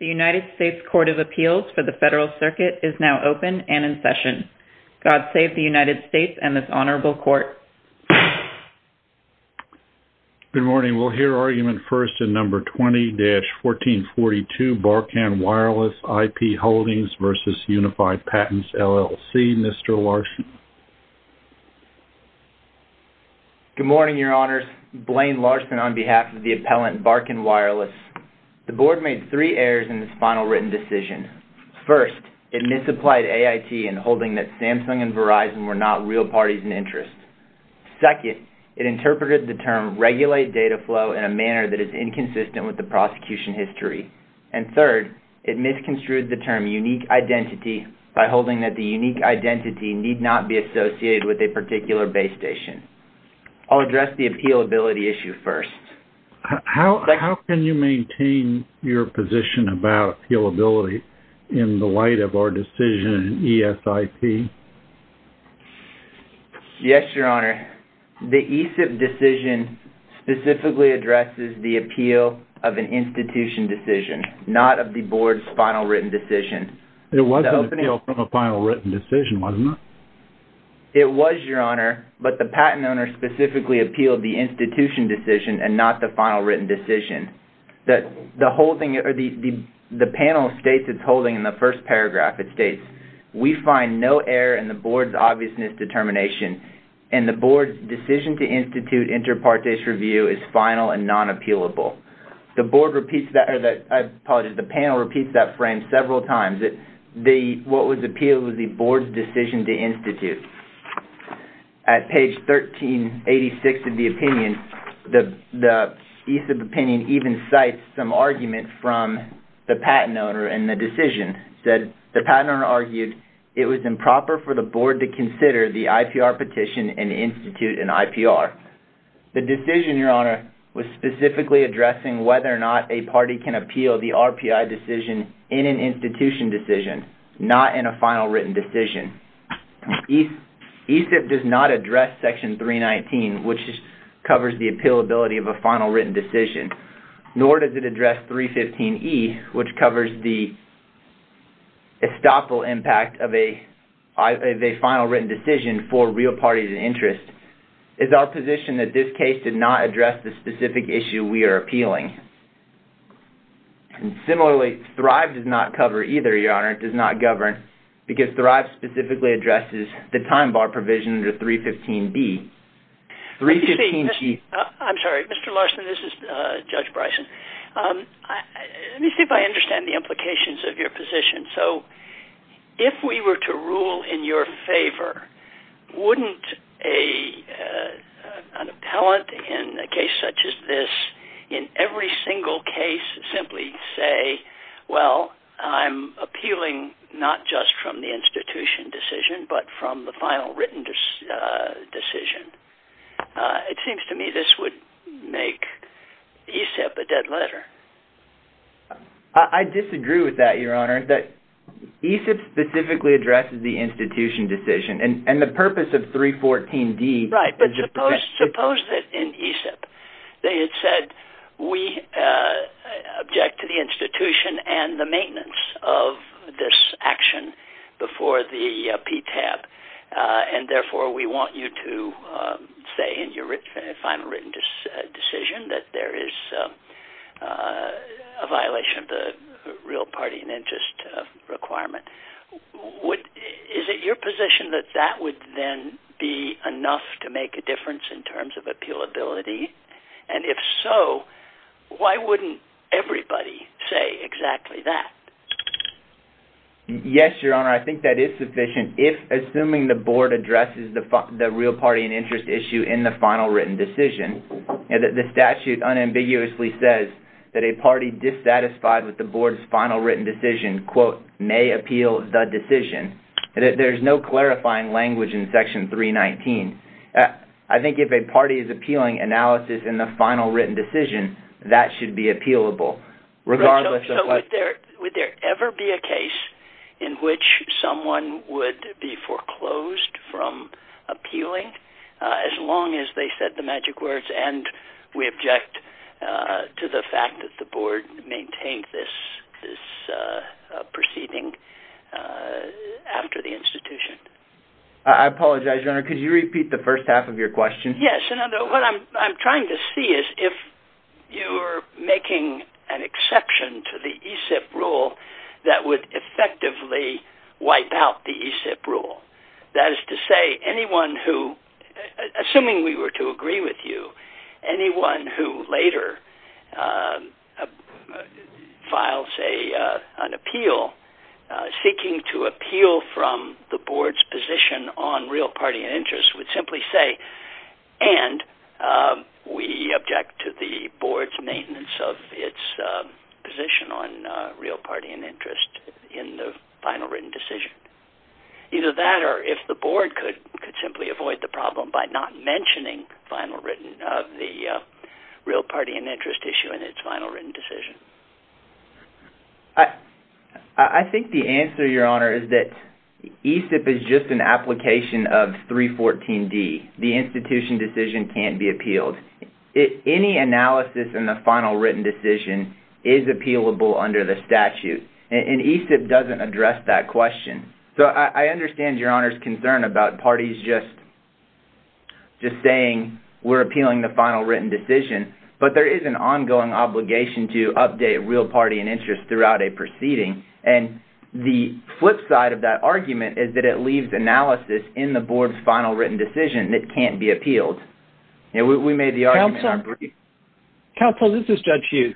The United States Court of Appeals for the Federal Circuit is now open and in session. God save the United States and this Honorable Court. Good morning, we'll hear argument first in number 20-1442 Barkan Wireless IP Holdings v. Unified Patents, LLC, Mr. Larson. Good morning, Your Honors, Blaine Larson on behalf of the appellant Barkan Wireless. The Board made three errors in this final written decision. First, it misapplied AIT in holding that Samsung and Verizon were not real parties and interests. Second, it interpreted the term regulate data flow in a manner that is inconsistent with the prosecution history. And third, it misconstrued the term unique identity by holding that the unique identity need not be associated with a particular base station. I'll address the appealability issue first. How can you maintain your position about appealability in the light of our decision in ESIP? Yes, Your Honor, the ESIP decision specifically addresses the appeal of an institution decision, not of the Board's final written decision. It wasn't an appeal from a final written decision, was it not? It was, Your Honor, but the patent owner specifically appealed the institution decision and not the final written decision. The panel states it's holding in the first paragraph. It states, we find no error in the Board's obviousness determination and the Board's decision to institute inter partes review is final and non-appealable. The panel repeats that frame several times. What was appealed was the Board's decision to institute. At page 1386 of the opinion, the ESIP opinion even cites some argument from the patent owner in the decision. The patent owner argued it was improper for the Board to consider the IPR petition and institute an IPR. The decision, Your Honor, was specifically addressing whether or not a party can appeal the RPI decision in an institution decision, not in a final written decision. ESIP does not address section 319, which covers the appealability of a final written decision, nor does it address 315E, which covers the estoppel impact of a final written decision for real parties of interest. It's our position that this case did not address the specific issue we are appealing. Similarly, Thrive does not cover either, Your Honor. It does not govern, because Thrive specifically addresses the time bar provision under 315B. Let me see. I'm sorry. Mr. Larson, this is Judge Bryson. Let me see if I understand the implications of your position. If we were to rule in your favor, wouldn't an appellate in a case such as this, in every single case, simply say, well, I'm appealing not just from the institution decision, but from the final written decision? It seems to me this would make ESIP a dead letter. I disagree with that, Your Honor. ESIP specifically addresses the institution ESIP. They had said, we object to the institution and the maintenance of this action before the PTAB. Therefore, we want you to say in your final written decision that there is a violation of the real party and interest requirement. Is it your position that that would then be enough to make a difference in terms of appealability? If so, why wouldn't everybody say exactly that? Yes, Your Honor. I think that is sufficient. If, assuming the board addresses the real party and interest issue in the final written decision, the statute unambiguously says that a party dissatisfied with the board's final written decision, quote, may appeal the decision. There's no clarifying language in Section 319. I think if a party is appealing analysis in the final written decision, that should be appealable. Regardless of whether... Would there ever be a case in which someone would be foreclosed from appealing as long as they said the magic words, and we object to the fact that the board maintained this proceeding after the institution? I apologize, Your Honor. Could you repeat the first half of your question? Yes. What I'm trying to see is if you're making an exception to the ESIP rule that would effectively wipe out the ESIP rule. That is to say, anyone who... Assuming we were to agree with you, anyone who later files a... An appeal, seeking to appeal from the board's position on real party and interest would simply say, and we object to the board's maintenance of its position on real party and interest in the final written decision. Either that or if the board could simply avoid the problem by not mentioning final written... The real party and interest issue in its final written decision. I think the answer, Your Honor, is that ESIP is just an application of 314D. The institution decision can't be appealed. Any analysis in the final written decision is appealable under the statute, and ESIP doesn't address that question. I understand Your Honor's concern about parties just saying, we're appealing the final written decision, but there is an ongoing obligation to update real party and interest throughout a proceeding. The flip side of that argument is that it leaves analysis in the board's final written decision that can't be appealed. We made the argument in our brief. Counsel, this is Judge Hughes.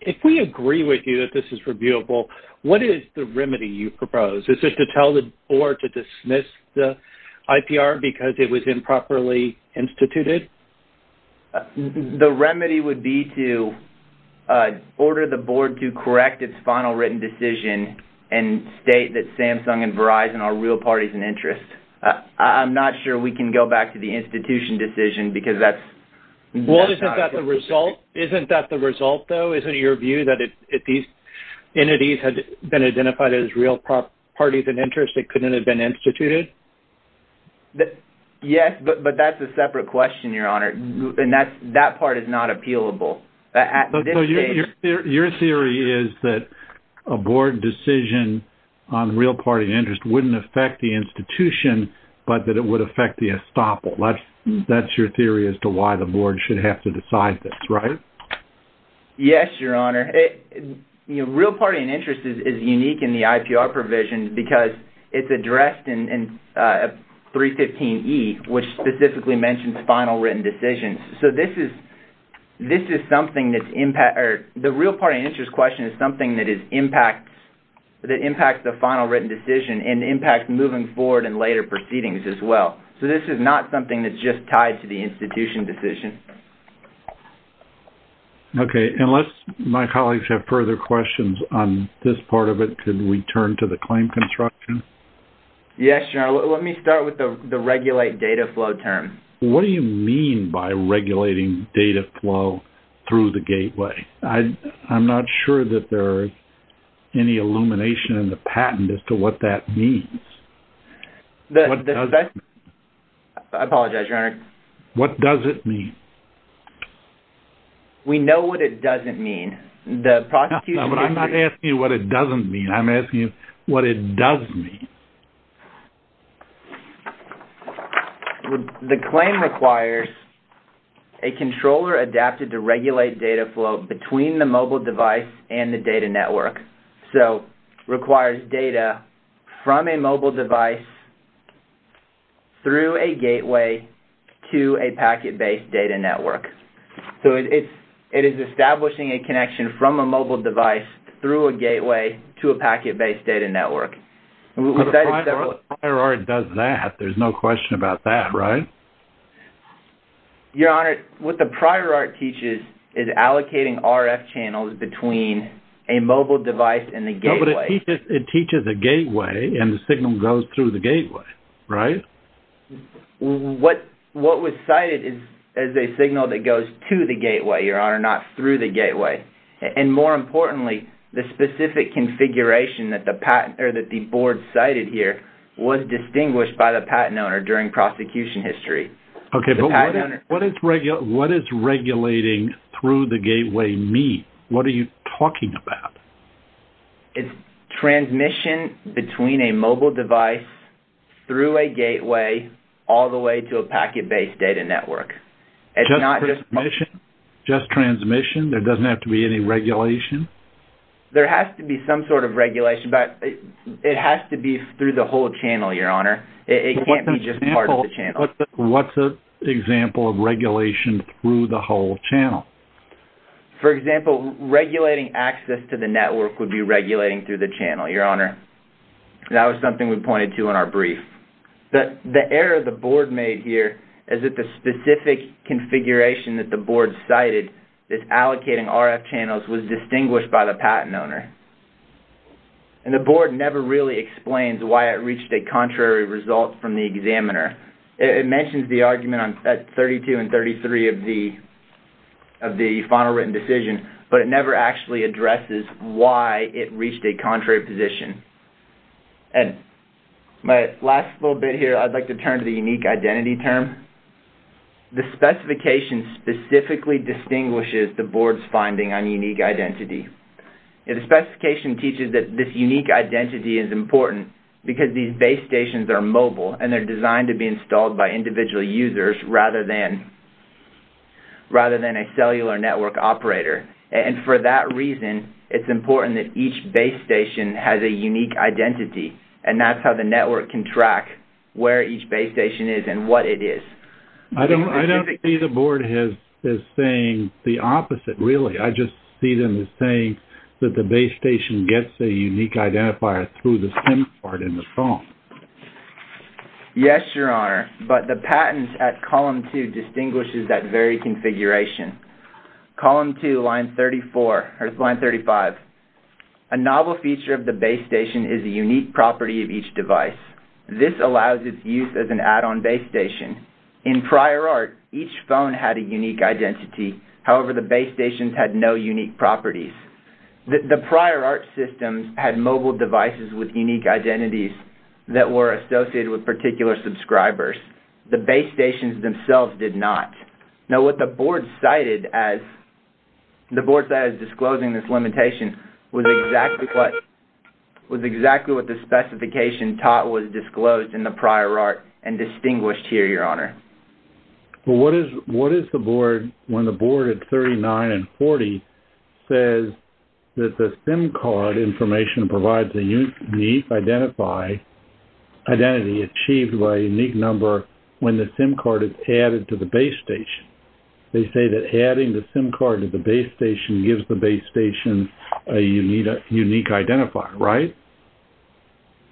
If we agree with you that this is reviewable, what is the remedy you propose? Is it to tell the board... The remedy would be to order the board to correct its final written decision and state that Samsung and Verizon are real parties and interest. I'm not sure we can go back to the institution decision because that's... Well, isn't that the result? Isn't that the result, though? Isn't it your view that if these entities had been identified as real parties and interest, it couldn't have been instituted? Yes, but that's a separate question, Your Honor. That part is not appealable. Your theory is that a board decision on real party and interest wouldn't affect the institution, but that it would affect the estoppel. That's your theory as to why the board should have to decide this, right? Yes, Your Honor. Real party and interest is unique in the IPR provision because it's addressed in 315E, which specifically mentions final written decisions. This is something that's impact... The real party and interest question is something that impacts the final written decision and impacts moving forward and later proceedings as well. This is not something that's just tied to the institution decision. Okay. Unless my colleagues have further questions on this part of it, could we turn to the claim construction? Yes, Your Honor. Let me start with the regulate data flow term. What do you mean by regulating data flow through the gateway? I'm not sure that there's any illumination in the patent as to what that means. What does it mean? I apologize, Your Honor. What does it mean? We know what it doesn't mean. The prosecution... No, but I'm not asking you what it doesn't mean. I'm asking you what it does mean. The claim requires a controller adapted to regulate data flow between the mobile device and the data network, so requires data from a mobile device through a gateway to a packet-based data network. It is establishing a connection from a mobile device through a gateway to a packet-based data network. If the prior art does that, there's no question about that, right? Your Honor, what the prior art teaches is allocating RF channels between a mobile device and the gateway. No, but it teaches a gateway and the signal goes through the gateway, right? What was cited is a signal that goes to the gateway, Your Honor, not through the gateway. More importantly, the specific configuration that the board cited here was distinguished by the patent owner during prosecution history. What does regulating through the gateway mean? What are you talking about? It's transmission between a mobile device through a gateway all the way to a packet-based data network. Just transmission? Just transmission? There doesn't have to be any regulation? There has to be some sort of regulation, but it has to be through the whole channel, Your Honor. It can't be just part of the channel. What's an example of regulation through the whole channel? For example, regulating access to the network would be regulating through the channel, Your Honor. That was something we pointed to in our brief. The error the board made here is that the specific configuration that the board cited, this allocating RF channels, was distinguished by the patent owner. The board never really explains why it reached a contrary result from the examiner. It mentions the argument at 32 and 33 of the final written decision, but it never actually addresses why it reached a contrary position. My last little bit here, I'd like to turn to the unique identity term. The specification specifically distinguishes the board's finding on unique identity. The specification teaches that this unique identity is important because these base stations are mobile and they're designed to be installed by individual users rather than a cellular network operator. And for that reason, it's important that each base station has a unique identity, and that's how the network can track where each base station is and what it is. I don't see the board as saying the opposite, really. I just see them as saying that the base station gets a unique identifier through the SIM card in the phone. Yes, Your Honor, but the patent at column two distinguishes that very configuration. Column two, line 34, or line 35, a novel feature of the base station is a unique property of each device. This allows its use as an add-on base station. In prior art, each phone had a unique identity. However, the base stations had no unique properties. The prior art systems had mobile devices with unique identities that were associated with particular subscribers. The base stations themselves did not. Now, what the board cited as disclosing this limitation was exactly what the specification taught was disclosed in the prior art and distinguished here, Your Honor. Well, what is the board when the board at 39 and 40 says that the SIM card information provides a unique identity achieved by a unique number when the SIM card is added to the base station? They say that adding the SIM card to the base station gives the base station a unique identifier, right?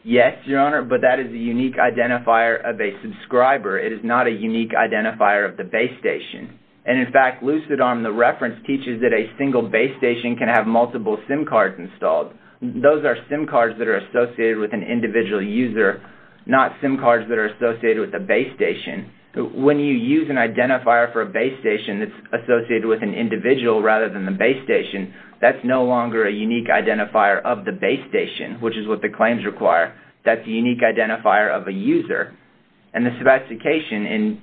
Yes, Your Honor, but that is a unique identifier of a subscriber. It is not a unique identifier of the base station. And, in fact, LucidARM, the reference, teaches that a single base station can have multiple SIM cards installed. Those are SIM cards that are associated with an individual user, not SIM cards that are associated with a base station. When you use an identifier for a base station that's associated with an individual rather than the base station, that's no longer a unique identifier of the base station, which is what the claims require. That's a unique identifier of a user. And the specification in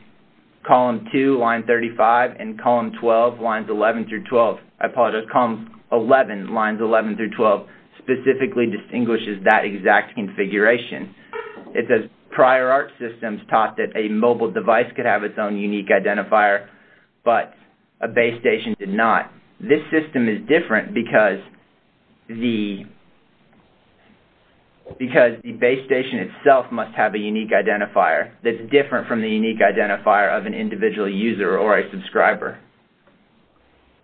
column 2, line 35, and column 12, lines 11 through 12, I apologize, is a configuration. It says prior art systems taught that a mobile device could have its own unique identifier, but a base station did not. This system is different because the base station itself must have a unique identifier that's different from the unique identifier of an individual user or a subscriber.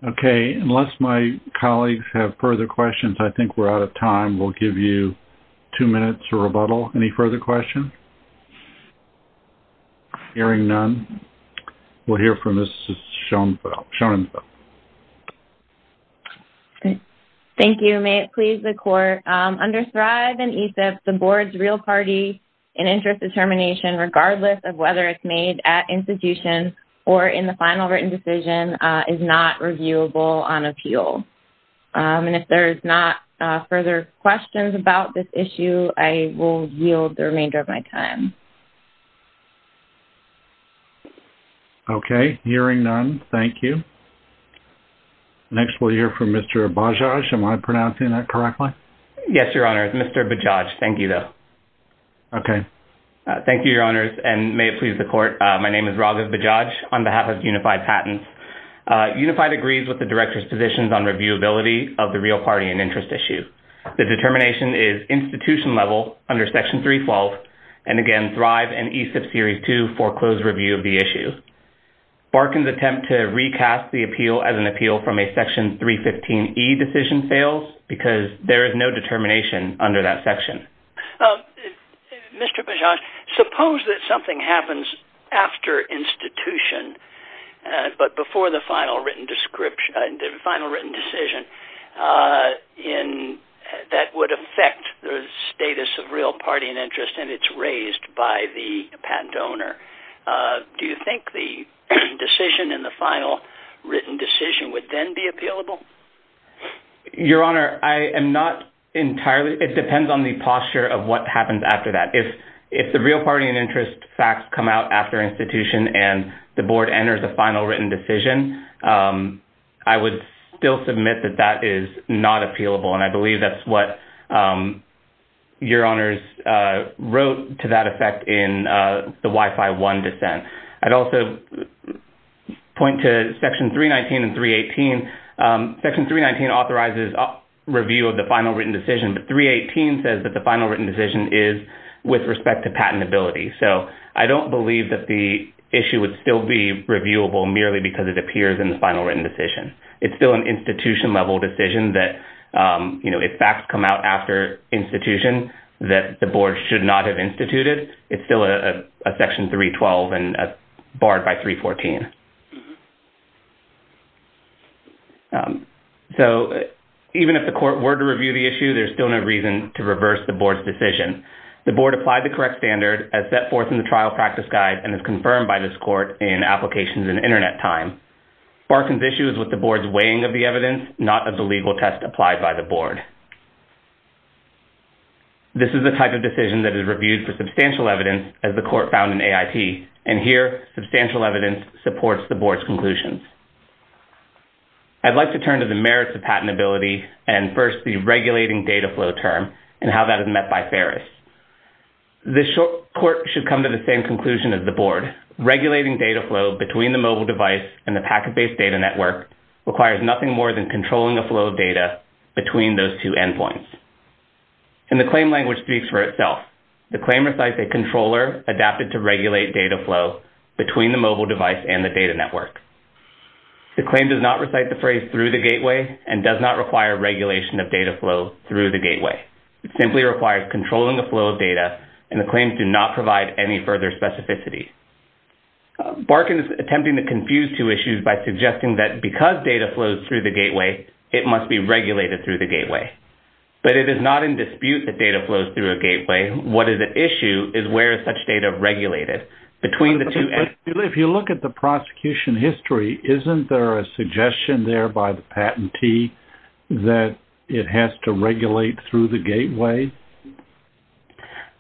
Okay. Unless my colleagues have further questions, I think we're out of time. We'll give you two minutes to rebuttal. Any further questions? Hearing none, we'll hear from Ms. Schoenfeld. Thank you. May it please the Court, under Thrive and ESIP, the Board's real party and interest determination, regardless of whether it's made at institution or in the final written decision, is not reviewable on appeal. And if there's not further questions about this issue, I will yield the remainder of my time. Okay. Hearing none, thank you. Next, we'll hear from Mr. Bajaj. Am I pronouncing that correctly? Yes, Your Honors. Mr. Bajaj. Thank you, though. Okay. Thank you, Your Honors. And may it please the Court, my name is Raghav Bajaj on behalf of Unified Patents. Unified agrees with the Director's positions on reviewability of the real party and interest issue. The determination is institution level under Section 312, and again, Thrive and ESIP Series 2 foreclosed review of the issue. Barkan's attempt to recast the appeal as an appeal from a Section 315E decision fails because there is no determination under that section. Mr. Bajaj, suppose that something happens after institution, but before the final written decision, that would affect the status of real party and interest, and it's raised by the patent owner. Do you think the decision in the final written decision would then be appealable? Your Honor, I am not entirely... It depends on the posture of what happens after that. If the real party and interest facts come out after institution and the Board enters a final written decision, I would still submit that that is not appealable, and I believe that's what Your Honors wrote to that effect in the WIFI 1 dissent. I'd also point to Section 319 and 318. Section 319 authorizes review of the final written decision, but 318 says that the final written decision is with respect to patentability. I don't believe that the issue would still be reviewable merely because it appears in the final written decision. It's still an institution-level decision that if facts come out after institution that the Board should not have instituted, it's still a Section 312 and barred by 314. So even if the Court were to review the issue, there's still no reason to reverse the Board's decision. The Board applied the correct standard as set forth in the trial practice guide and as confirmed by this Court in applications in Internet time. Barkin's issue is with the Board's weighing of the evidence, not of the legal test applied by the Board. This is the type of decision that is reviewed for substantial evidence as the Court found in AIT, and here substantial evidence supports the Board's conclusions. I'd like to turn to the merits of patentability and first the regulating data flow term and how that is met by Ferris. This Court should come to the same conclusion as the Board. Regulating data flow between the mobile device and the packet-based data network requires nothing more than controlling a flow of data between those two endpoints. And the claim language speaks for itself. The claim recites a controller adapted to regulate data flow between the mobile device and the data network. The claim does not recite the phrase through the gateway and does not require regulation of data flow through the gateway. It simply requires controlling a flow of data, and the claims do not provide any further specificity. Barkin is attempting to confuse two issues by suggesting that because data flows through the gateway, it must be regulated through the gateway. But it is not in dispute that data flows through a gateway. What is at issue is where is such data regulated between the two ends. If you look at the prosecution history, isn't there a suggestion there by the patentee that it has to regulate through the gateway?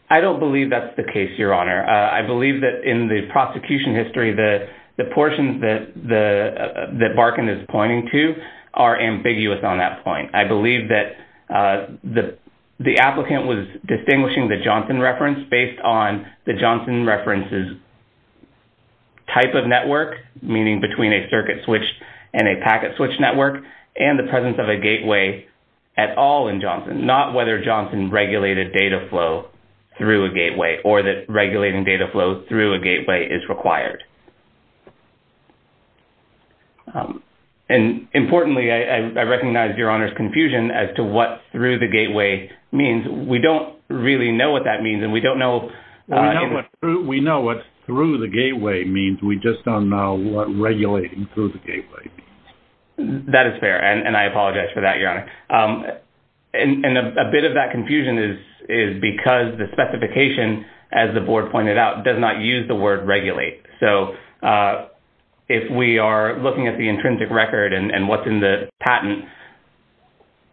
I don't believe that's the case, Your Honor. I believe that in the prosecution history, the portion that Barkin is pointing to are ambiguous on that point. I believe that the applicant was distinguishing the Johnson reference based on the Johnson reference's type of network, meaning between a circuit switch and a packet switch network, and the presence of a gateway at all in Johnson, not whether Johnson regulated data flow through a gateway or that regulating data flow through a gateway is required. Importantly, I recognize Your Honor's confusion as to what through the gateway means. We don't really know what that means, and we don't know... We know what through the gateway means. We just don't know what regulating through the gateway means. That is fair, and I apologize for that, Your Honor. A bit of that confusion is because the specification, as the board pointed out, does not use the word regulate. If we are looking at the intrinsic record and what's in the patent,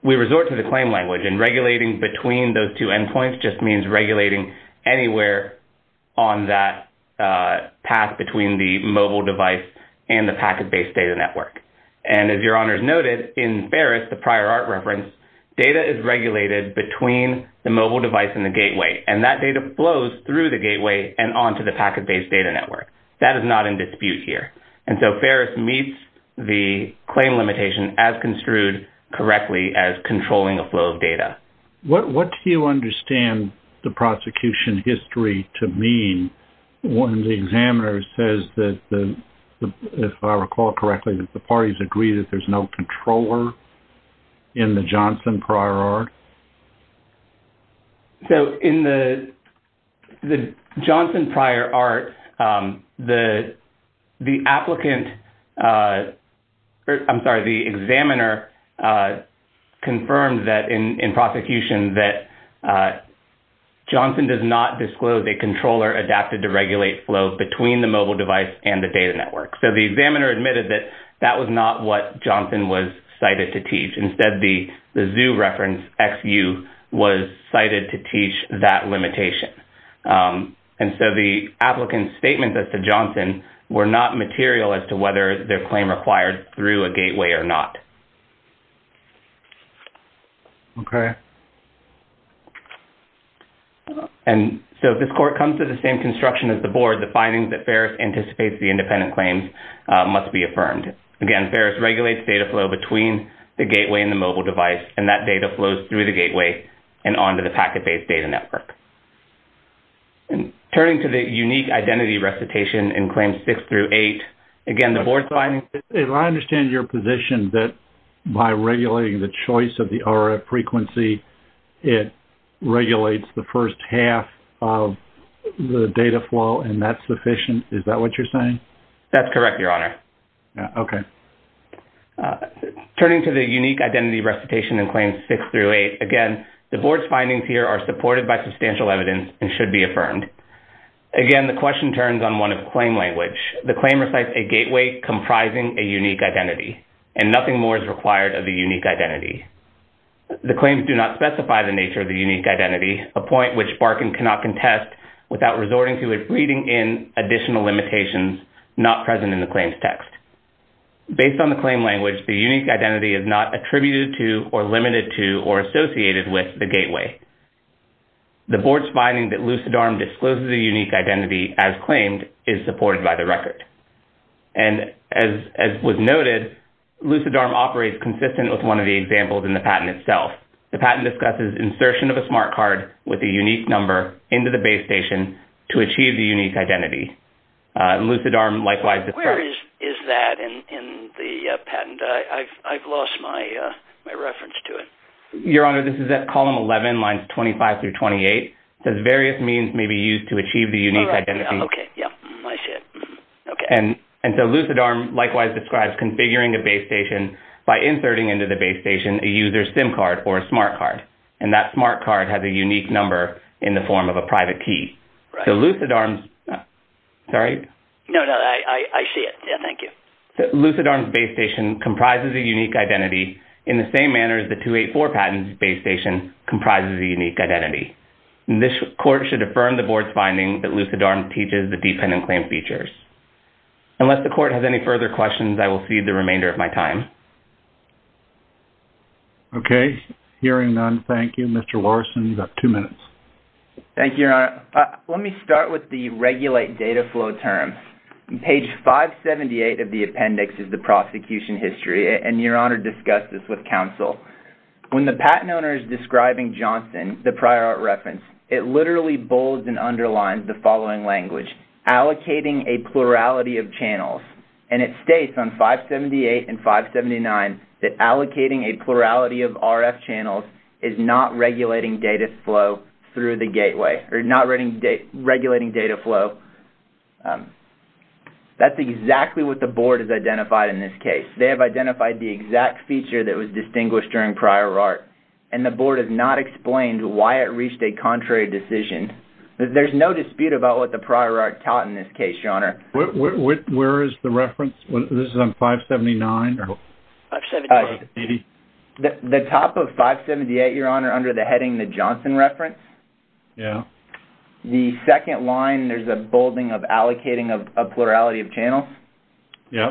we resort to the claim language, and regulating between those two endpoints just means regulating anywhere on that path between the mobile device and the packet-based data network. As Your Honor's noted, in Ferris, the prior art reference, data is regulated between the gateway, and that data flows through the gateway and onto the packet-based data network. That is not in dispute here, and so Ferris meets the claim limitation as construed correctly as controlling a flow of data. What do you understand the prosecution history to mean when the examiner says that, if I recall correctly, that the parties agree that there's no controller in the Johnson prior art? In the Johnson prior art, the examiner confirmed in prosecution that Johnson does not disclose a controller adapted to regulate flow between the mobile device and the data network. The examiner admitted that that was not what Johnson was cited to teach. Instead, the zoo reference, XU, was cited to teach that limitation. The applicant's statements as to Johnson were not material as to whether their claim required through a gateway or not. If this court comes to the same construction as the board, the findings that Ferris anticipates the independent claims must be affirmed. Again, Ferris regulates data flow between the gateway and the mobile device, and that data flows through the gateway and onto the packet-based data network. Turning to the unique identity recitation in claims six through eight, again, the board findings... If I understand your position that, by regulating the choice of the RF frequency, it regulates the first half of the data flow, and that's sufficient, is that what you're saying? That's correct, Your Honor. Okay. Turning to the unique identity recitation in claims six through eight, again, the board's findings here are supported by substantial evidence and should be affirmed. Again, the question turns on one of claim language. The claim recites a gateway comprising a unique identity, and nothing more is required of the unique identity. The claims do not specify the nature of the unique identity, a point which Barkin cannot contest without resorting to it reading in additional limitations not present in the claims text. Based on the claim language, the unique identity is not attributed to or limited to or associated with the gateway. The board's finding that LucidARM discloses a unique identity as claimed is supported by the record. And as was noted, LucidARM operates consistent with one of the examples in the patent itself. The patent discusses insertion of a smart card with a unique number into the base station to achieve the unique identity. LucidARM likewise discusses... Where is that in the patent? I've lost my reference to it. Your Honor, this is at column 11, lines 25 through 28. It says various means may be used to achieve the unique identity. Okay. Yeah. I see it. Okay. And so LucidARM likewise describes configuring a base station by inserting into the base station a claim card or a smart card, and that smart card has a unique number in the form of a private key. Right. So LucidARM's... Sorry? No, no. I see it. Yeah. Thank you. So LucidARM's base station comprises a unique identity in the same manner as the 284 patent's base station comprises a unique identity. This court should affirm the board's finding that LucidARM teaches the dependent claim features. Unless the court has any further questions, I will cede the remainder of my time. Okay. Hearing none. Thank you. Mr. Larson, you've got two minutes. Thank you, Your Honor. Let me start with the regulate data flow term. Page 578 of the appendix is the prosecution history, and Your Honor discussed this with counsel. When the patent owner is describing Johnson, the prior art reference, it literally bolds and underlines the following language, allocating a plurality of channels. And it states on 578 and 579 that allocating a plurality of RF channels is not regulating data flow through the gateway, or not regulating data flow. That's exactly what the board has identified in this case. They have identified the exact feature that was distinguished during prior art, and the board has not explained why it reached a contrary decision. There's no dispute about what the prior art taught in this case, Your Honor. Where is the reference? This is on 579? 578. The top of 578, Your Honor, under the heading, the Johnson reference. Yeah. The second line, there's a bolding of allocating a plurality of channels. Yeah.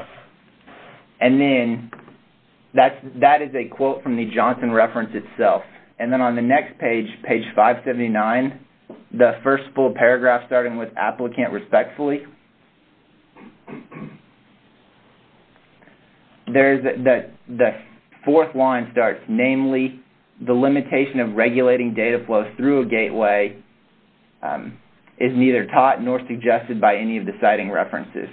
And then, that is a quote from the Johnson reference itself. And then, on the next page, page 579, the first full paragraph starting with applicant respectfully, there's the fourth line starts, namely, the limitation of regulating data flow through a gateway is neither taught nor suggested by any of the citing references.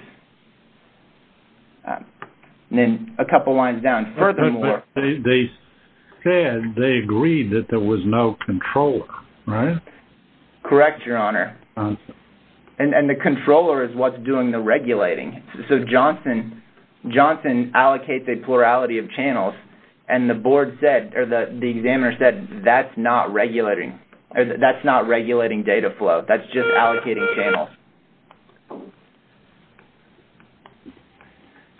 And then, a couple lines down, further more. They said, they agreed that there was no controller, right? Correct, Your Honor. And the controller is what's doing the regulating. So, Johnson allocates a plurality of channels, and the board said, or the examiner said, that's not regulating data flow. That's just allocating channels.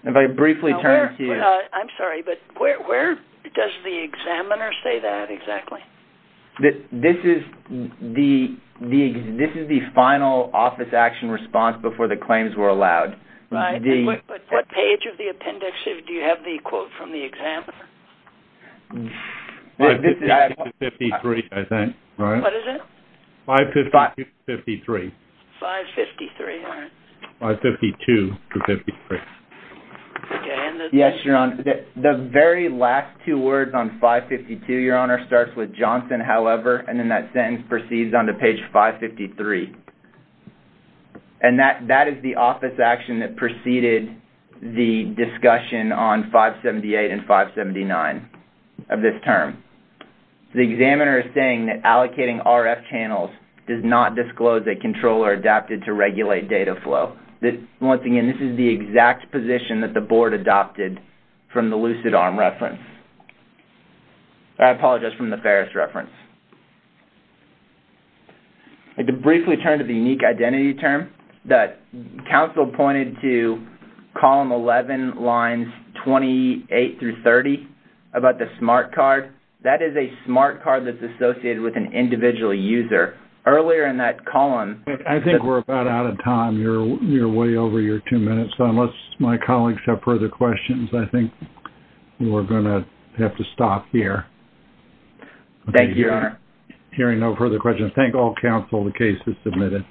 If I briefly turn to you... I'm sorry, but where does the examiner say that exactly? This is the final office action response before the claims were allowed. Right. But what page of the appendix do you have the quote from the examiner? This is... 553, I think. Right. What is it? 553. 553. 553, all right. 552 to 553. Okay. And the... Yes, Your Honor. The very last two words on 552, Your Honor, starts with Johnson, however, and then that sentence proceeds on to page 553. And that is the office action that preceded the discussion on 578 and 579 of this term. The examiner is saying that allocating RF channels does not disclose a controller adapted to regulate data flow. Once again, this is the exact position that the board adopted from the LucidARM reference. I apologize, from the Ferris reference. I can briefly turn to the unique identity term that counsel pointed to column 11, lines 28 through 30 about the smart card. That is a smart card that's associated with an individual user. Earlier in that column... We're about out of time. You're way over your two minutes. So, unless my colleagues have further questions, I think we're going to have to stop here. Thank you, Your Honor. Hearing no further questions, thank all counsel, the case is submitted.